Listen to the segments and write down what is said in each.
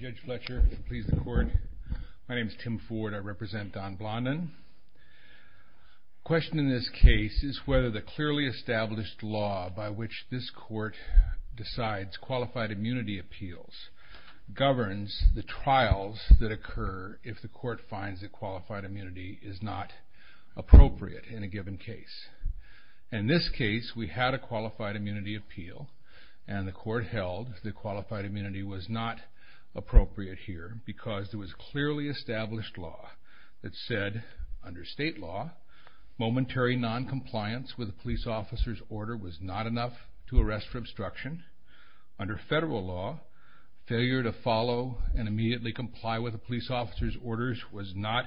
Judge Fletcher, please the court. My name is Tim Ford. I represent Don Blondin. The question in this case is whether the clearly established law by which this court decides qualified immunity appeals governs the trials that occur if the court finds that qualified immunity is not appropriate in a given case. In this case, we had a qualified immunity appeal and the court held that qualified immunity was not appropriate. Because there was clearly established law that said, under state law, momentary non-compliance with a police officer's order was not enough to arrest for obstruction. Under federal law, failure to follow and immediately comply with a police officer's orders was not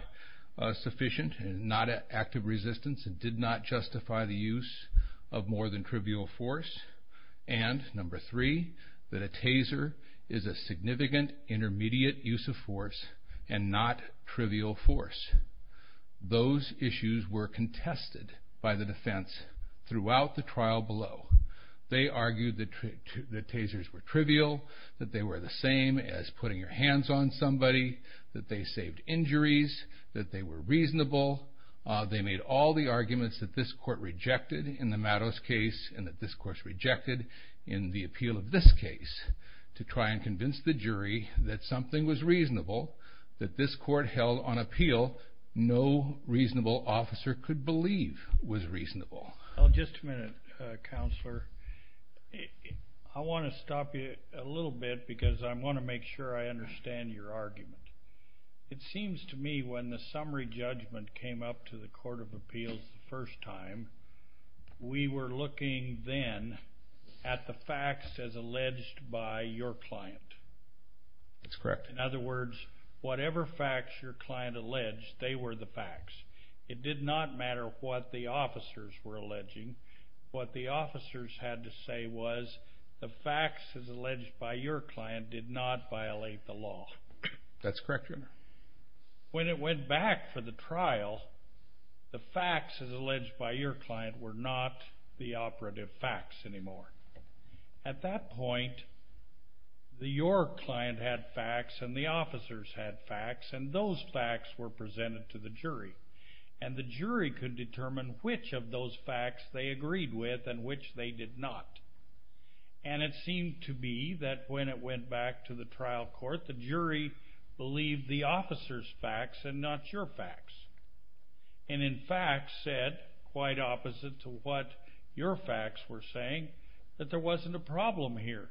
sufficient and not an act of resistance and did not justify the use of more than trivial force. And number three, that a taser was not enough to arrest for obstruction. A taser is a significant intermediate use of force and not trivial force. Those issues were contested by the defense throughout the trial below. They argued that tasers were trivial, that they were the same as putting your hands on somebody, that they saved injuries, that they were reasonable. They made all the arguments that this court rejected in the Matos case and that this court rejected in the appeal of this case. To try and convince the jury that something was reasonable, that this court held on appeal, no reasonable officer could believe was reasonable. Just a minute, Counselor. I want to stop you a little bit because I want to make sure I understand your argument. It seems to me when the summary judgment came up to the Court of Appeals the first time, we were looking then at the facts as alleged by your client. That's correct. In other words, whatever facts your client alleged, they were the facts. It did not matter what the officers were alleging. What the officers had to say was, the facts as alleged by your client did not violate the law. That's correct, Your Honor. When it went back for the trial, the facts as alleged by your client were not the operative facts anymore. At that point, your client had facts and the officers had facts and those facts were presented to the jury. The jury could determine which of those facts they agreed with and which they did not. And it seemed to be that when it went back to the trial court, the jury believed the officers' facts and not your facts. And in fact said, quite opposite to what your facts were saying, that there wasn't a problem here.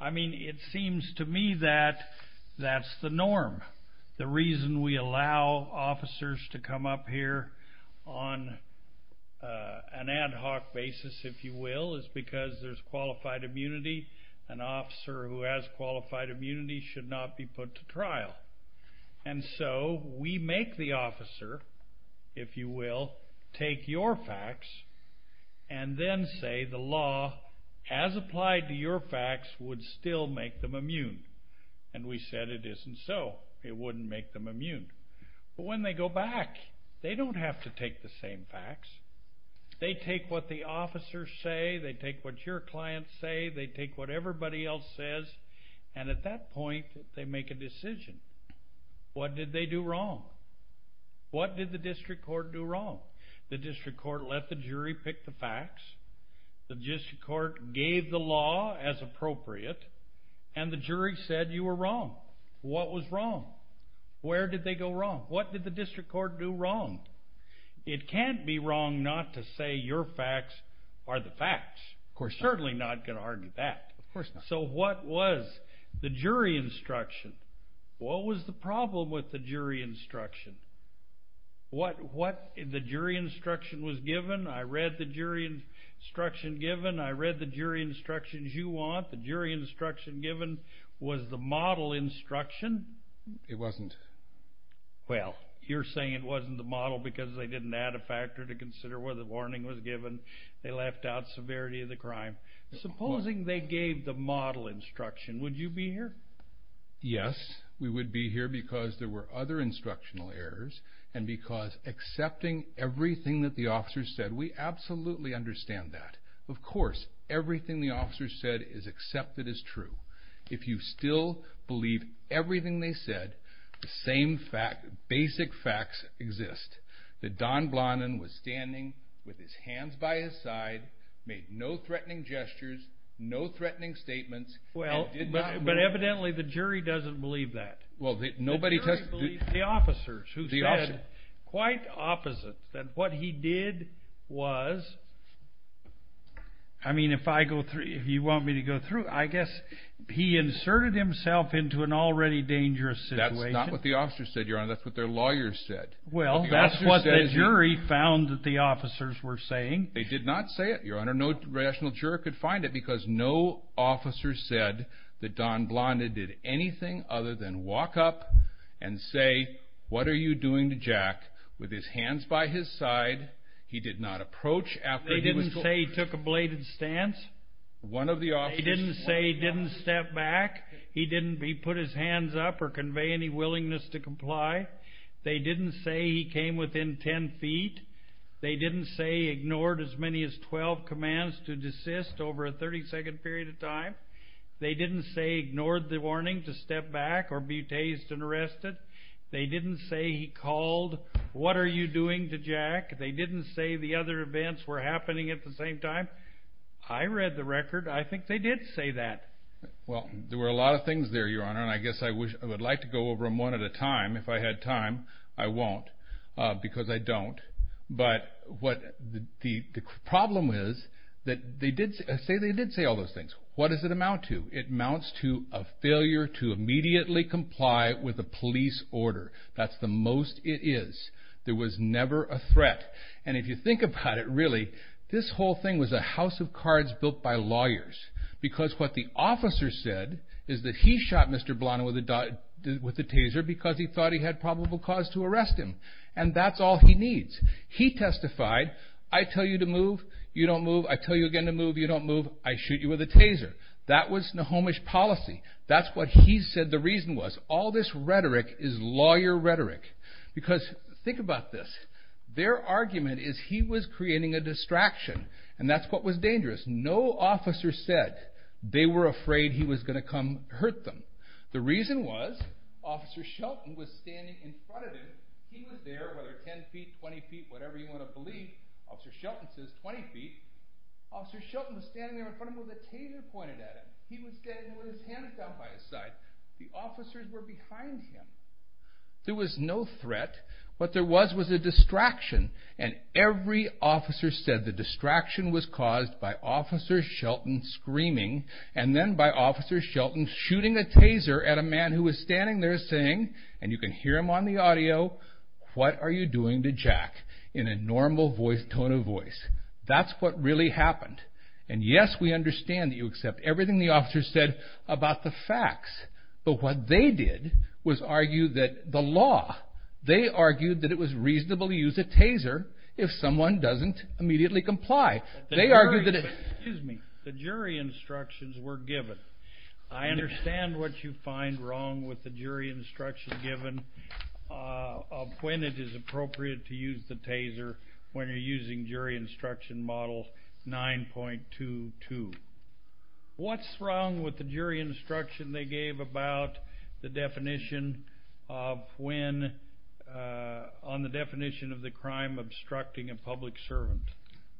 I mean, it seems to me that that's the norm. The reason we allow officers to come up here on an ad hoc basis, if you will, is because there's qualified immunity. An officer who has qualified immunity should not be put to trial. And so we make the officer, if you will, take your facts and then say the law as applied to your facts would still make them immune. And we said it isn't so. It wouldn't make them immune. But when they go back, they don't have to take the same facts. They take what the officers say. They take what your clients say. They take what everybody else says. And at that point, they make a decision. What did they do wrong? What did the district court do wrong? The district court let the jury pick the facts. The district court gave the law as appropriate. And the jury said you were wrong. What was wrong? Where did they go wrong? What did the district court do wrong? It can't be wrong not to say your facts are the facts. We're certainly not going to argue that. So what was the jury instruction? What was the problem with the jury instruction? What the jury instruction was given? I read the jury instruction given. I read the jury instructions you want. The jury instruction given was the model instruction. It wasn't. Well, you're saying it wasn't the model because they didn't add a factor to consider where the warning was given. They left out severity of the crime. Supposing they gave the model instruction, would you be here? Yes, we would be here because there were other instructional errors and because accepting everything that the officers said, we absolutely understand that. Of course, everything the officers said is accepted as true. If you still believe everything they said, the same basic facts exist, that Don Blondin was standing with his hands by his side, made no threatening gestures, no threatening statements, and did not move. But evidently the jury doesn't believe that. The jury believes the officers who said quite opposite, that what he did was, I mean, if you want me to go through, I guess he inserted himself into an already dangerous situation. That's not what the officers said, Your Honor. That's what their lawyers said. Well, that's what the jury found that the officers were saying. They did not say it, Your Honor. No rational juror could find it because no officer said that Don Blondin did anything other than walk up and say, what are you doing to Jack with his hands by his side? He did not approach after he was told. They didn't say he took a bladed stance? One of the officers. They didn't say he didn't step back? He didn't put his hands up or convey any willingness to comply? They didn't say he came within 10 feet? They didn't say he ignored as many as 12 commands to desist over a 30-second period of time? They didn't say he ignored the warning to step back or be tased and arrested? They didn't say he called, what are you doing to Jack? They didn't say the other events were happening at the same time? I read the record. I think they did say that. Well, there were a lot of things there, Your Honor, and I guess I would like to go over them one at a time. If I had time, I won't because I don't. But the problem is that they did say all those things. What does it amount to? It amounts to a failure to immediately comply with a police order. That's the most it is. There was never a threat. And if you think about it, really, this whole thing was a house of cards built by lawyers because what the officer said is that he shot Mr. Blano with a taser because he thought he had probable cause to arrest him, and that's all he needs. He testified, I tell you to move, you don't move. I tell you again to move, you don't move, I shoot you with a taser. That was Nahomish policy. That's what he said the reason was. All this rhetoric is lawyer rhetoric because think about this. Their argument is he was creating a distraction, and that's what was dangerous. No officer said they were afraid he was going to come hurt them. The reason was Officer Shelton was standing in front of him. He was there, whether 10 feet, 20 feet, whatever you want to believe. Officer Shelton says 20 feet. Officer Shelton was standing there in front of him with a taser pointed at him. He was standing there with his hand down by his side. The officers were behind him. There was no threat. What there was was a distraction, and every officer said the distraction was caused by Officer Shelton screaming and then by Officer Shelton shooting a taser at a man who was standing there saying, and you can hear him on the audio, what are you doing to Jack in a normal tone of voice? That's what really happened. Yes, we understand that you accept everything the officers said about the facts, but what they did was argue that the law, they argued that it was reasonable to use a taser if someone doesn't immediately comply. The jury instructions were given. I understand what you find wrong with the jury instruction given of when it is appropriate to use the taser when you're using jury instruction model 9.22. What's wrong with the jury instruction they gave about the definition of when, on the definition of the crime, obstructing a public servant?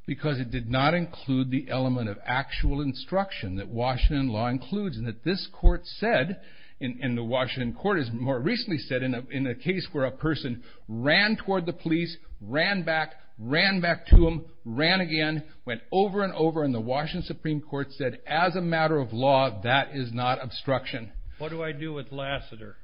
Because it did not include the element of actual instruction that Washington law includes and that this court said, and the Washington court has more recently said, in a case where a person ran toward the police, ran back, ran back to them, ran again, went over and over, and the Washington Supreme Court said, as a matter of law, that is not obstruction. What do I do with Lassiter?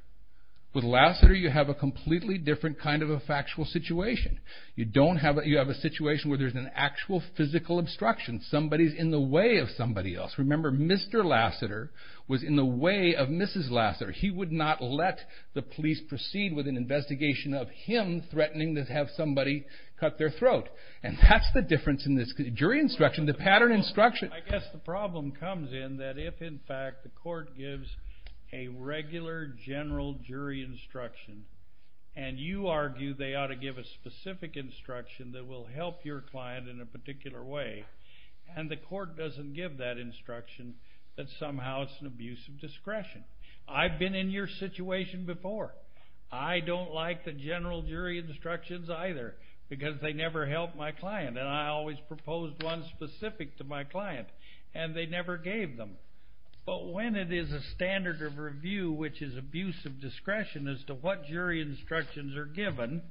With Lassiter, you have a completely different kind of a factual situation. You have a situation where there's an actual physical obstruction. Somebody's in the way of somebody else. Remember, Mr. Lassiter was in the way of Mrs. Lassiter. He would not let the police proceed with an investigation of him threatening to have somebody cut their throat. And that's the difference in this jury instruction, the pattern instruction. I guess the problem comes in that if, in fact, the court gives a regular general jury instruction and you argue they ought to give a specific instruction that will help your client in a particular way and the court doesn't give that instruction, that somehow it's an abuse of discretion. I've been in your situation before. because they never help my client, and I always propose one specific to my client, and they never gave them. But when it is a standard of review, which is abuse of discretion, as to what jury instructions are given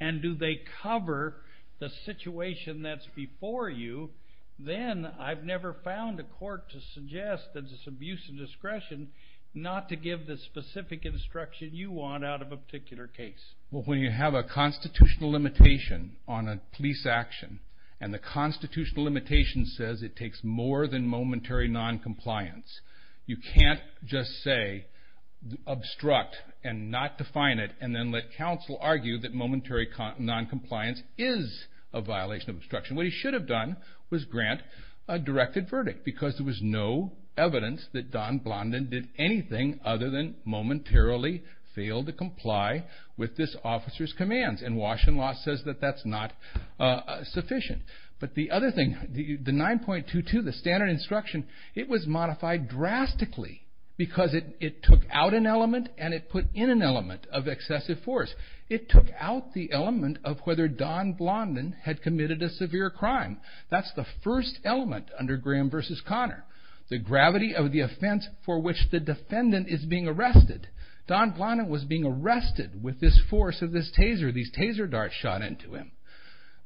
and do they cover the situation that's before you, then I've never found a court to suggest that it's abuse of discretion not to give the specific instruction you want out of a particular case. Well, when you have a constitutional limitation on a police action and the constitutional limitation says it takes more than momentary noncompliance, you can't just say obstruct and not define it and then let counsel argue that momentary noncompliance is a violation of obstruction. What he should have done was grant a directed verdict because there was no evidence that Don Blondin did anything other than momentarily fail to comply with this officer's commands. And Washington law says that that's not sufficient. But the other thing, the 9.22, the standard instruction, it was modified drastically because it took out an element and it put in an element of excessive force. It took out the element of whether Don Blondin had committed a severe crime. That's the first element under Graham v. Connor. The gravity of the offense for which the defendant is being arrested. Don Blondin was being arrested with this force of this taser. These taser darts shot into him.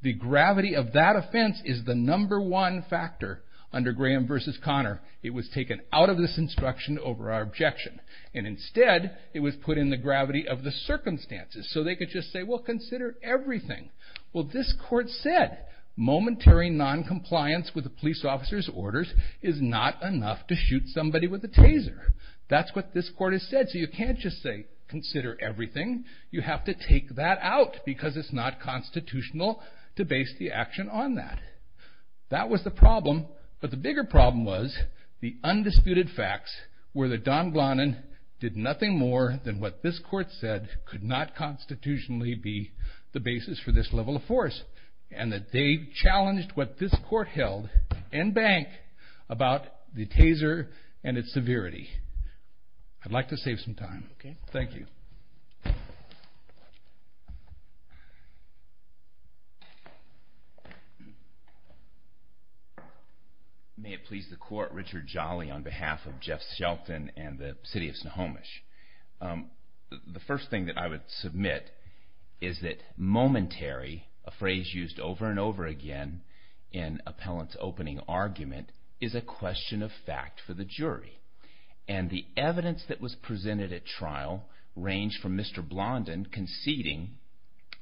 The gravity of that offense is the number one factor under Graham v. Connor. It was taken out of this instruction over our objection. And instead, it was put in the gravity of the circumstances. So they could just say, well, consider everything. This force is not enough to shoot somebody with a taser. That's what this court has said. So you can't just say, consider everything. You have to take that out because it's not constitutional to base the action on that. That was the problem. But the bigger problem was the undisputed facts were that Don Blondin did nothing more than what this court said could not constitutionally be the basis for this level of force. And that they challenged what this court held in bank about the taser and its severity. I'd like to save some time. Thank you. May it please the court, Richard Jolly on behalf of Jeff Shelton and the city of Snohomish. The first thing that I would submit is that momentary a phrase used over and over again in appellant's opening argument is a question of fact for the jury. And the evidence that was presented at trial ranged from Mr. Blondin conceding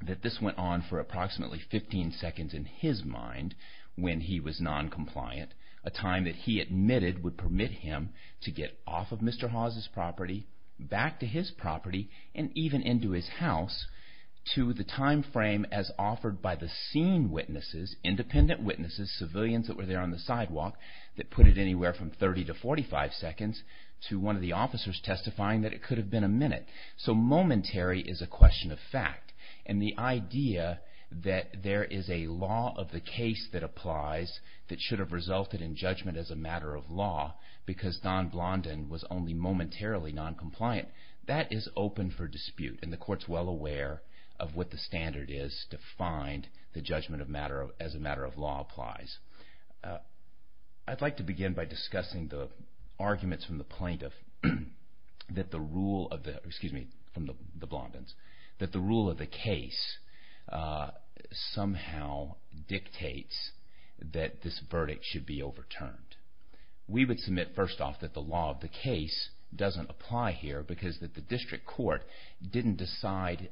that this went on for approximately 15 seconds in his mind when he was noncompliant. A time that he admitted would permit him to get off of Mr. Hawes' property back to his property and even into his house to the time frame as offered by the seen witnesses independent witnesses, civilians that were there on the sidewalk that put it anywhere from 30 to 45 seconds to one of the officers testifying that it could have been a minute. So momentary is a question of fact. And the idea that there is a law of the case that applies that should have resulted in judgment as a matter of law because Don Blondin was only momentarily noncompliant that is open for dispute and the court is well aware of what the standard is to find the judgment as a matter of law applies. I'd like to begin by discussing the arguments from the plaintiff that the rule of the case somehow dictates that this verdict should be overturned. We would submit first off that the law of the case doesn't apply here because the district court didn't decide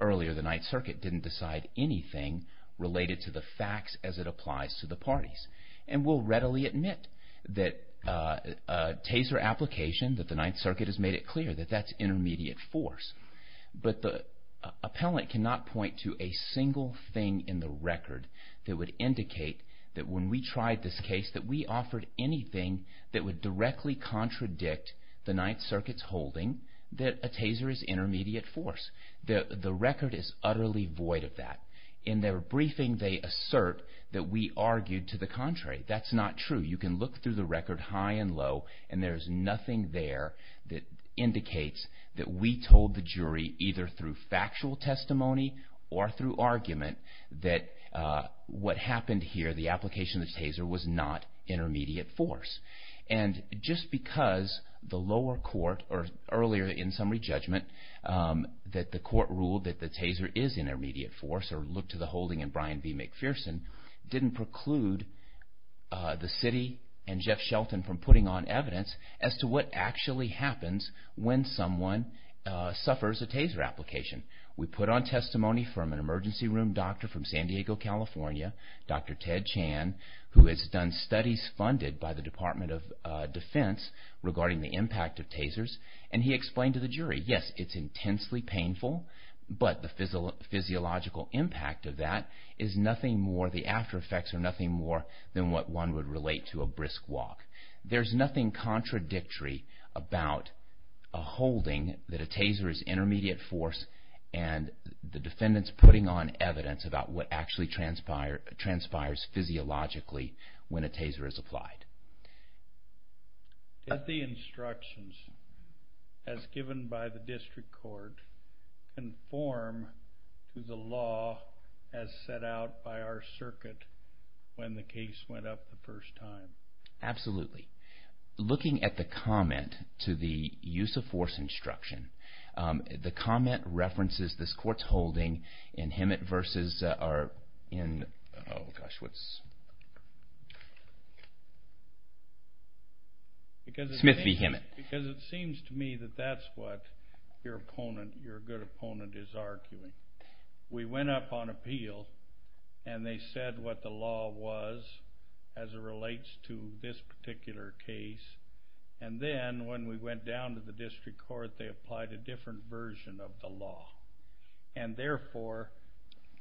earlier the Ninth Circuit didn't decide anything related to the facts as it applies to the parties. And we'll readily admit that Taser application that the Ninth Circuit has made it clear that that's intermediate force. But the appellant cannot point to a single thing in the record that would indicate that when we tried this case that we offered anything that would directly contradict the Ninth Circuit's holding that a Taser is intermediate force. The record is utterly void of that. In their briefing they assert that we argued to the contrary. That's not true. You can look through the record high and low and there is nothing there that indicates that we told the jury either through factual testimony or through argument that what happened here the application of the Taser was not intermediate force. And just because the lower court or earlier in summary judgment that the court ruled that the Taser is intermediate force or looked to the holding in Bryan v. McPherson didn't preclude the city and Jeff Shelton from putting on evidence as to what actually happens when someone suffers a Taser application. We put on testimony from an emergency room doctor from San Diego, California, Dr. Ted Chan who has done studies funded by the Department of Defense regarding the impact of Tasers and he explained to the jury, yes, it's intensely painful but the physiological impact of that is nothing more the after effects are nothing more than what one would relate to a brisk walk. There's nothing contradictory about a holding that a Taser is intermediate force and the defendants putting on evidence about what actually transpires physiologically when a Taser is applied. Did the instructions as given by the district court conform to the law as set out by our circuit when the case went up the first time? Absolutely. Looking at the comment to the use of force instruction the comment references this court's holding in Himmett v. Smith v. Himmett. Because it seems to me that that's what your opponent your good opponent is arguing. We went up on appeal and they said what the law was as it relates to this particular case and then when we went down to the district court they said that they applied a different version of the law and therefore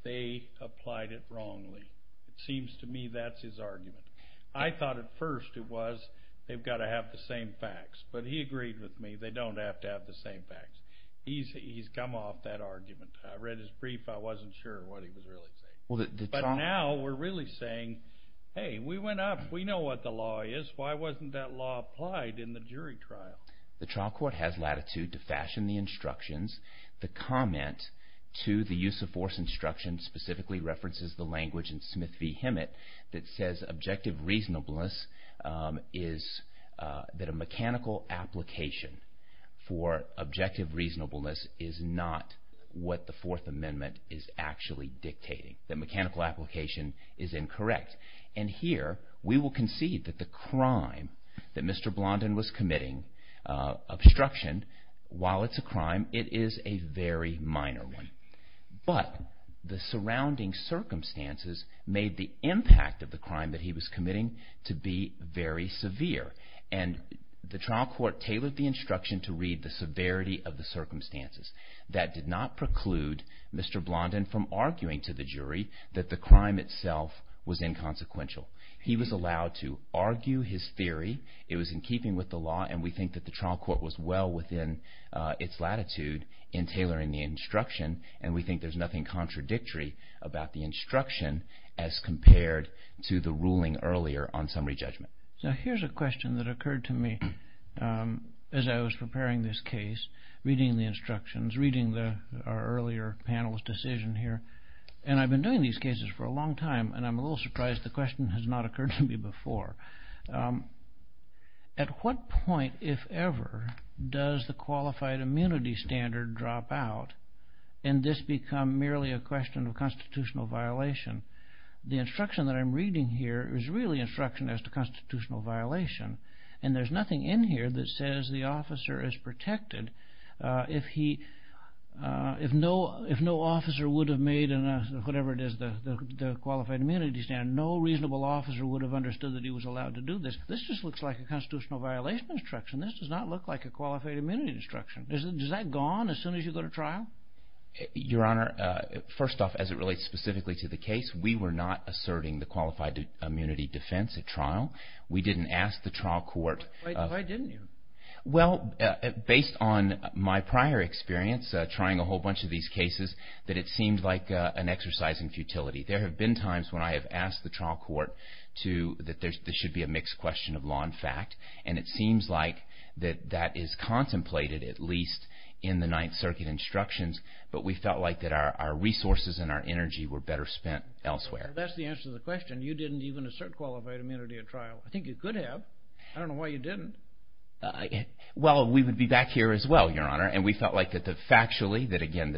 they applied it wrongly. It seems to me that's his argument. I thought at first it was they've got to have the same facts but he agreed with me, they don't have to have the same facts. He's come off that argument. I read his brief, I wasn't sure what he was really saying. But now we're really saying, hey, we went up, we know what the law is, why wasn't that law applied in the jury trial? The trial court has latitude to fashion the instructions. The comment to the use of force instruction specifically references the language in Smith v. Himmett that says objective reasonableness is that a mechanical application for objective reasonableness is not what the Fourth Amendment is actually dictating. The mechanical application is incorrect. And here we will concede that the crime that Mr. Blondin was committing, obstruction, while it's a crime, it is a very minor one. But the surrounding circumstances made the impact of the crime that he was committing to be very severe. And the trial court tailored the instruction to read the severity of the circumstances. That did not preclude Mr. Blondin from arguing to the jury that the crime itself was inconsequential. He was allowed to argue his theory. It was in keeping with the law, and we think that the trial court was well within its latitude in tailoring the instruction, and we think there's nothing contradictory about the instruction as compared to the ruling earlier on summary judgment. Now here's a question that occurred to me as I was preparing this case, reading the instructions, reading our earlier panel's decision here. And I've been doing these cases for a long time, and I'm a little surprised the question has not occurred to me before. At what point, if ever, does the qualified immunity standard drop out, and this become merely a question of constitutional violation? The instruction that I'm reading here is really instruction as to constitutional violation, and there's nothing in here that says the officer is protected if no officer would have made, whatever it is, the qualified immunity standard. No reasonable officer would have understood that he was allowed to do this. This just looks like a constitutional violation instruction. This does not look like a qualified immunity instruction. Is that gone as soon as you go to trial? Your Honor, first off, as it relates specifically to the case, we were not asserting the qualified immunity defense at trial. We didn't ask the trial court. Why didn't you? Well, based on my prior experience trying a whole bunch of these cases, that it seemed like an exercise in futility. There have been times when I have asked the trial court that there should be a mixed question of law and fact, and it seems like that that is contemplated, at least in the Ninth Circuit instructions, but we felt like that our resources and our energy were better spent elsewhere. That's the answer to the question. You didn't even assert qualified immunity at trial. I think you could have. I don't know why you didn't. Well, we would be back here as well, Your Honor, and we felt like that factually, that, again,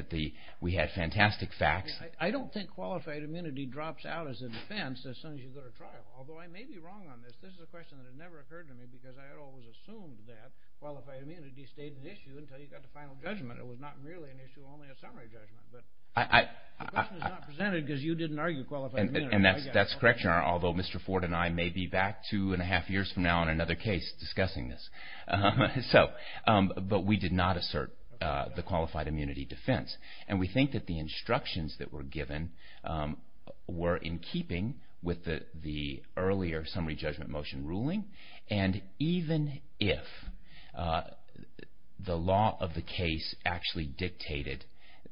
we had fantastic facts. I don't think qualified immunity drops out as a defense as soon as you go to trial, although I may be wrong on this. This is a question that has never occurred to me because I always assumed that qualified immunity stayed an issue until you got the final judgment. It was not merely an issue, only a summary judgment. The question is not presented because you didn't argue qualified immunity. And that's correct, Your Honor, although Mr. Ford and I may be back two and a half years from now on another case discussing this. But we did not assert the qualified immunity defense. And we think that the instructions that were given were in keeping with the earlier summary judgment motion ruling. And even if the law of the case actually dictated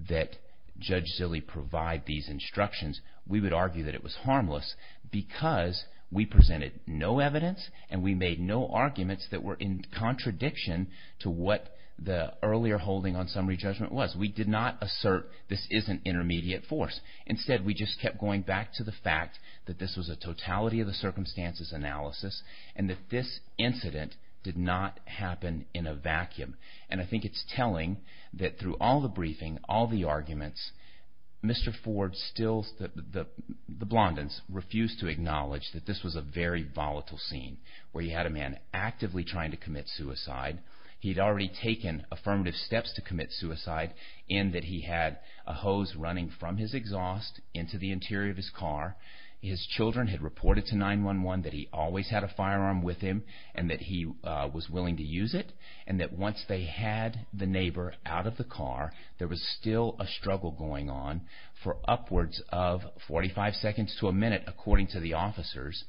that Judge Zille provide these instructions, we would argue that it was harmless because we presented no evidence and we made no arguments that were in contradiction to what the earlier holding on summary judgment was. We did not assert this is an intermediate force. Instead, we just kept going back to the fact that this was a totality-of-the-circumstances analysis and that this incident did not happen in a vacuum. And I think it's telling that through all the briefing, all the arguments, Mr. Ford still, the Blondins, refused to acknowledge that this was a very volatile scene. We had a man actively trying to commit suicide. He'd already taken affirmative steps to commit suicide in that he had a hose running from his exhaust into the interior of his car. His children had reported to 911 that he always had a firearm with him and that he was willing to use it. And that once they had the neighbor out of the car, there was still a struggle going on for upwards of 45 seconds to a minute, according to the officers.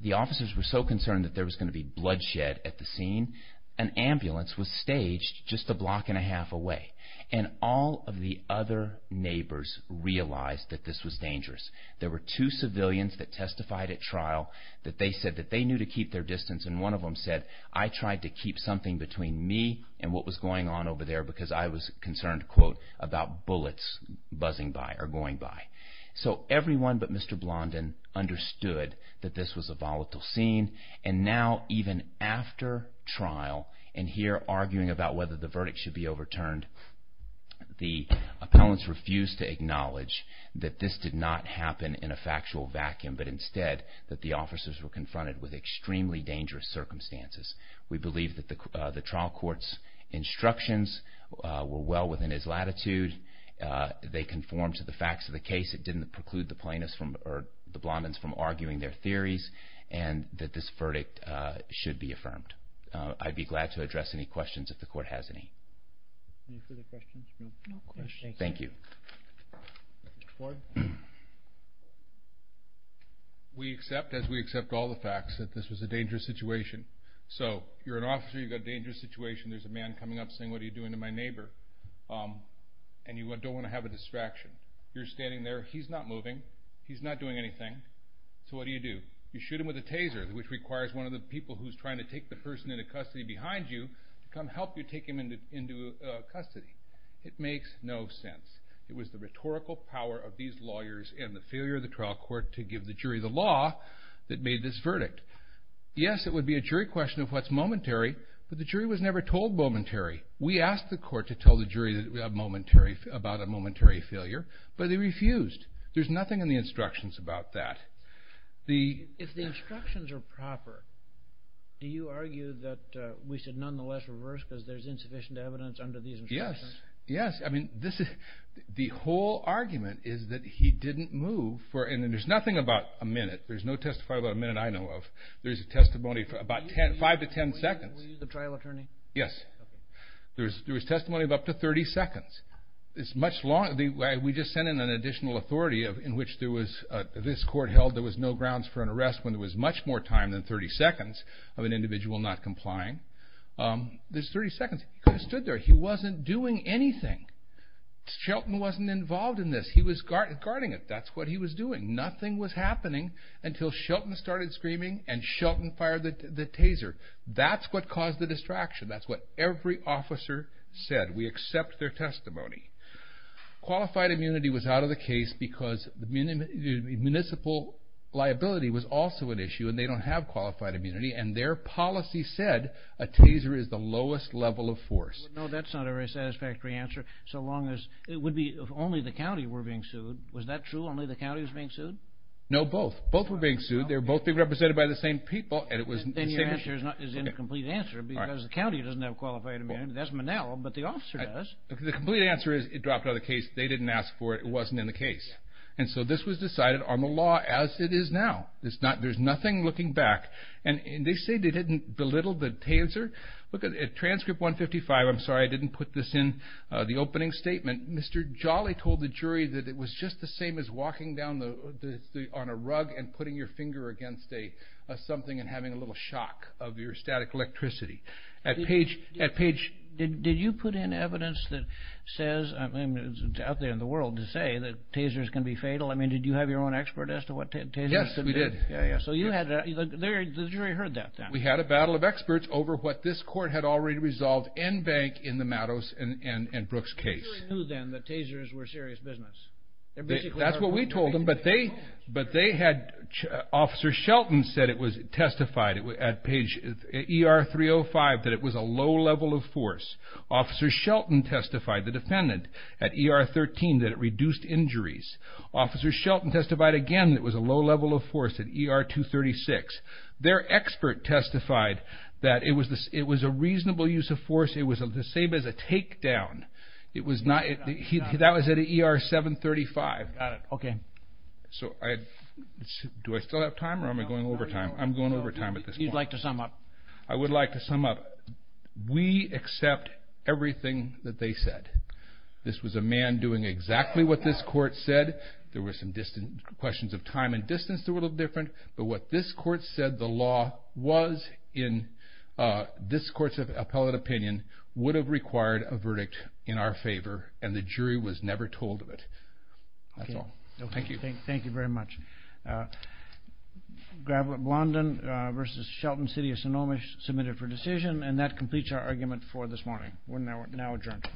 The officers were so concerned that there was going to be bloodshed at the scene, an ambulance was staged just a block and a half away. And all of the other neighbors realized that this was dangerous. There were two civilians that testified at trial that they said that they knew to keep their distance, and one of them said, I tried to keep something between me and what was going on over there because I was concerned, quote, about bullets buzzing by or going by. So everyone but Mr. Blondin understood that this was a volatile scene. And now, even after trial, and here arguing about whether the verdict should be overturned, the appellants refused to acknowledge that this did not happen in a factual vacuum, but instead that the officers were confronted with extremely dangerous circumstances. We believe that the trial court's instructions were well within his latitude. They conformed to the facts of the case. It didn't preclude the plaintiffs from, you know, arguing their theories, and that this verdict should be affirmed. I'd be glad to address any questions if the court has any. Any further questions? No questions. Thank you. Mr. Ford? We accept, as we accept all the facts, that this was a dangerous situation. So you're an officer, you've got a dangerous situation, there's a man coming up saying, what are you doing to my neighbor? And you don't want to have a distraction. You're standing there, he's not moving, he's not doing anything. So what do you do? You shoot him with a taser, which requires one of the people who's trying to take the person into custody behind you to come help you take him into custody. It makes no sense. It was the rhetorical power of these lawyers and the failure of the trial court to give the jury the law that made this verdict. Yes, it would be a jury question of what's momentary, but the jury was never told momentary. We asked the court to tell the jury about a momentary failure, but they refused. There's nothing in the instructions about that. If the instructions are proper, do you argue that we should nonetheless reverse because there's insufficient evidence under these instructions? Yes, yes. The whole argument is that he didn't move for, and there's nothing about a minute. There's no testifying about a minute I know of. There's a testimony for about 5 to 10 seconds. Were you the trial attorney? Yes. There was testimony of up to 30 seconds. We just sent in an additional authority in which this court held there was no grounds for an arrest when there was much more time than 30 seconds of an individual not complying. There's 30 seconds. He could have stood there. He wasn't doing anything. Shelton wasn't involved in this. He was guarding it. That's what he was doing. Nothing was happening until Shelton started screaming and Shelton fired the taser. That's what caused the distraction. That's what every officer said. We accept their testimony. Qualified immunity was out of the case because municipal liability was also an issue and they don't have qualified immunity, and their policy said a taser is the lowest level of force. Well, no, that's not a very satisfactory answer so long as it would be if only the county were being sued. Was that true, only the county was being sued? No, both. Both were being sued. They were both being represented by the same people. Then your answer is an incomplete answer because the county doesn't have qualified immunity. That's Manel, but the officer does. The complete answer is it dropped out of the case. They didn't ask for it. It wasn't in the case. So this was decided on the law as it is now. There's nothing looking back. They say they didn't belittle the taser. Look at transcript 155. I'm sorry I didn't put this in the opening statement. Mr. Jolly told the jury that it was just the same as walking down on a rug and putting your finger against something and having a little shock of your static electricity. Did you put in evidence that says, I mean it's out there in the world, to say that tasers can be fatal? Did you have your own expert as to what tasers can do? Yes, we did. So the jury heard that then. We had a battle of experts over what this court had already resolved in bank in the Matos and Brooks case. They knew then that tasers were serious business. That's what we told them, but they had Officer Shelton said it was testified at ER 305 that it was a low level of force. Officer Shelton testified, the defendant, at ER 13 that it reduced injuries. Officer Shelton testified again that it was a low level of force at ER 236. Their expert testified that it was a reasonable use of force. It was the same as a takedown. That was at ER 735. Got it, okay. Do I still have time or am I going over time? I'm going over time at this point. You'd like to sum up? I would like to sum up. We accept everything that they said. This was a man doing exactly what this court said. There were some questions of time and distance that were a little different, but what this court said the law was in this court's appellate opinion would have required a verdict in our favor, and the jury was never told of it. That's all. Okay. Thank you. Thank you very much. Gravelot Blondin v. Shelton, City of Sonoma, submitted for decision, and that completes our argument for this morning. We're now adjourned.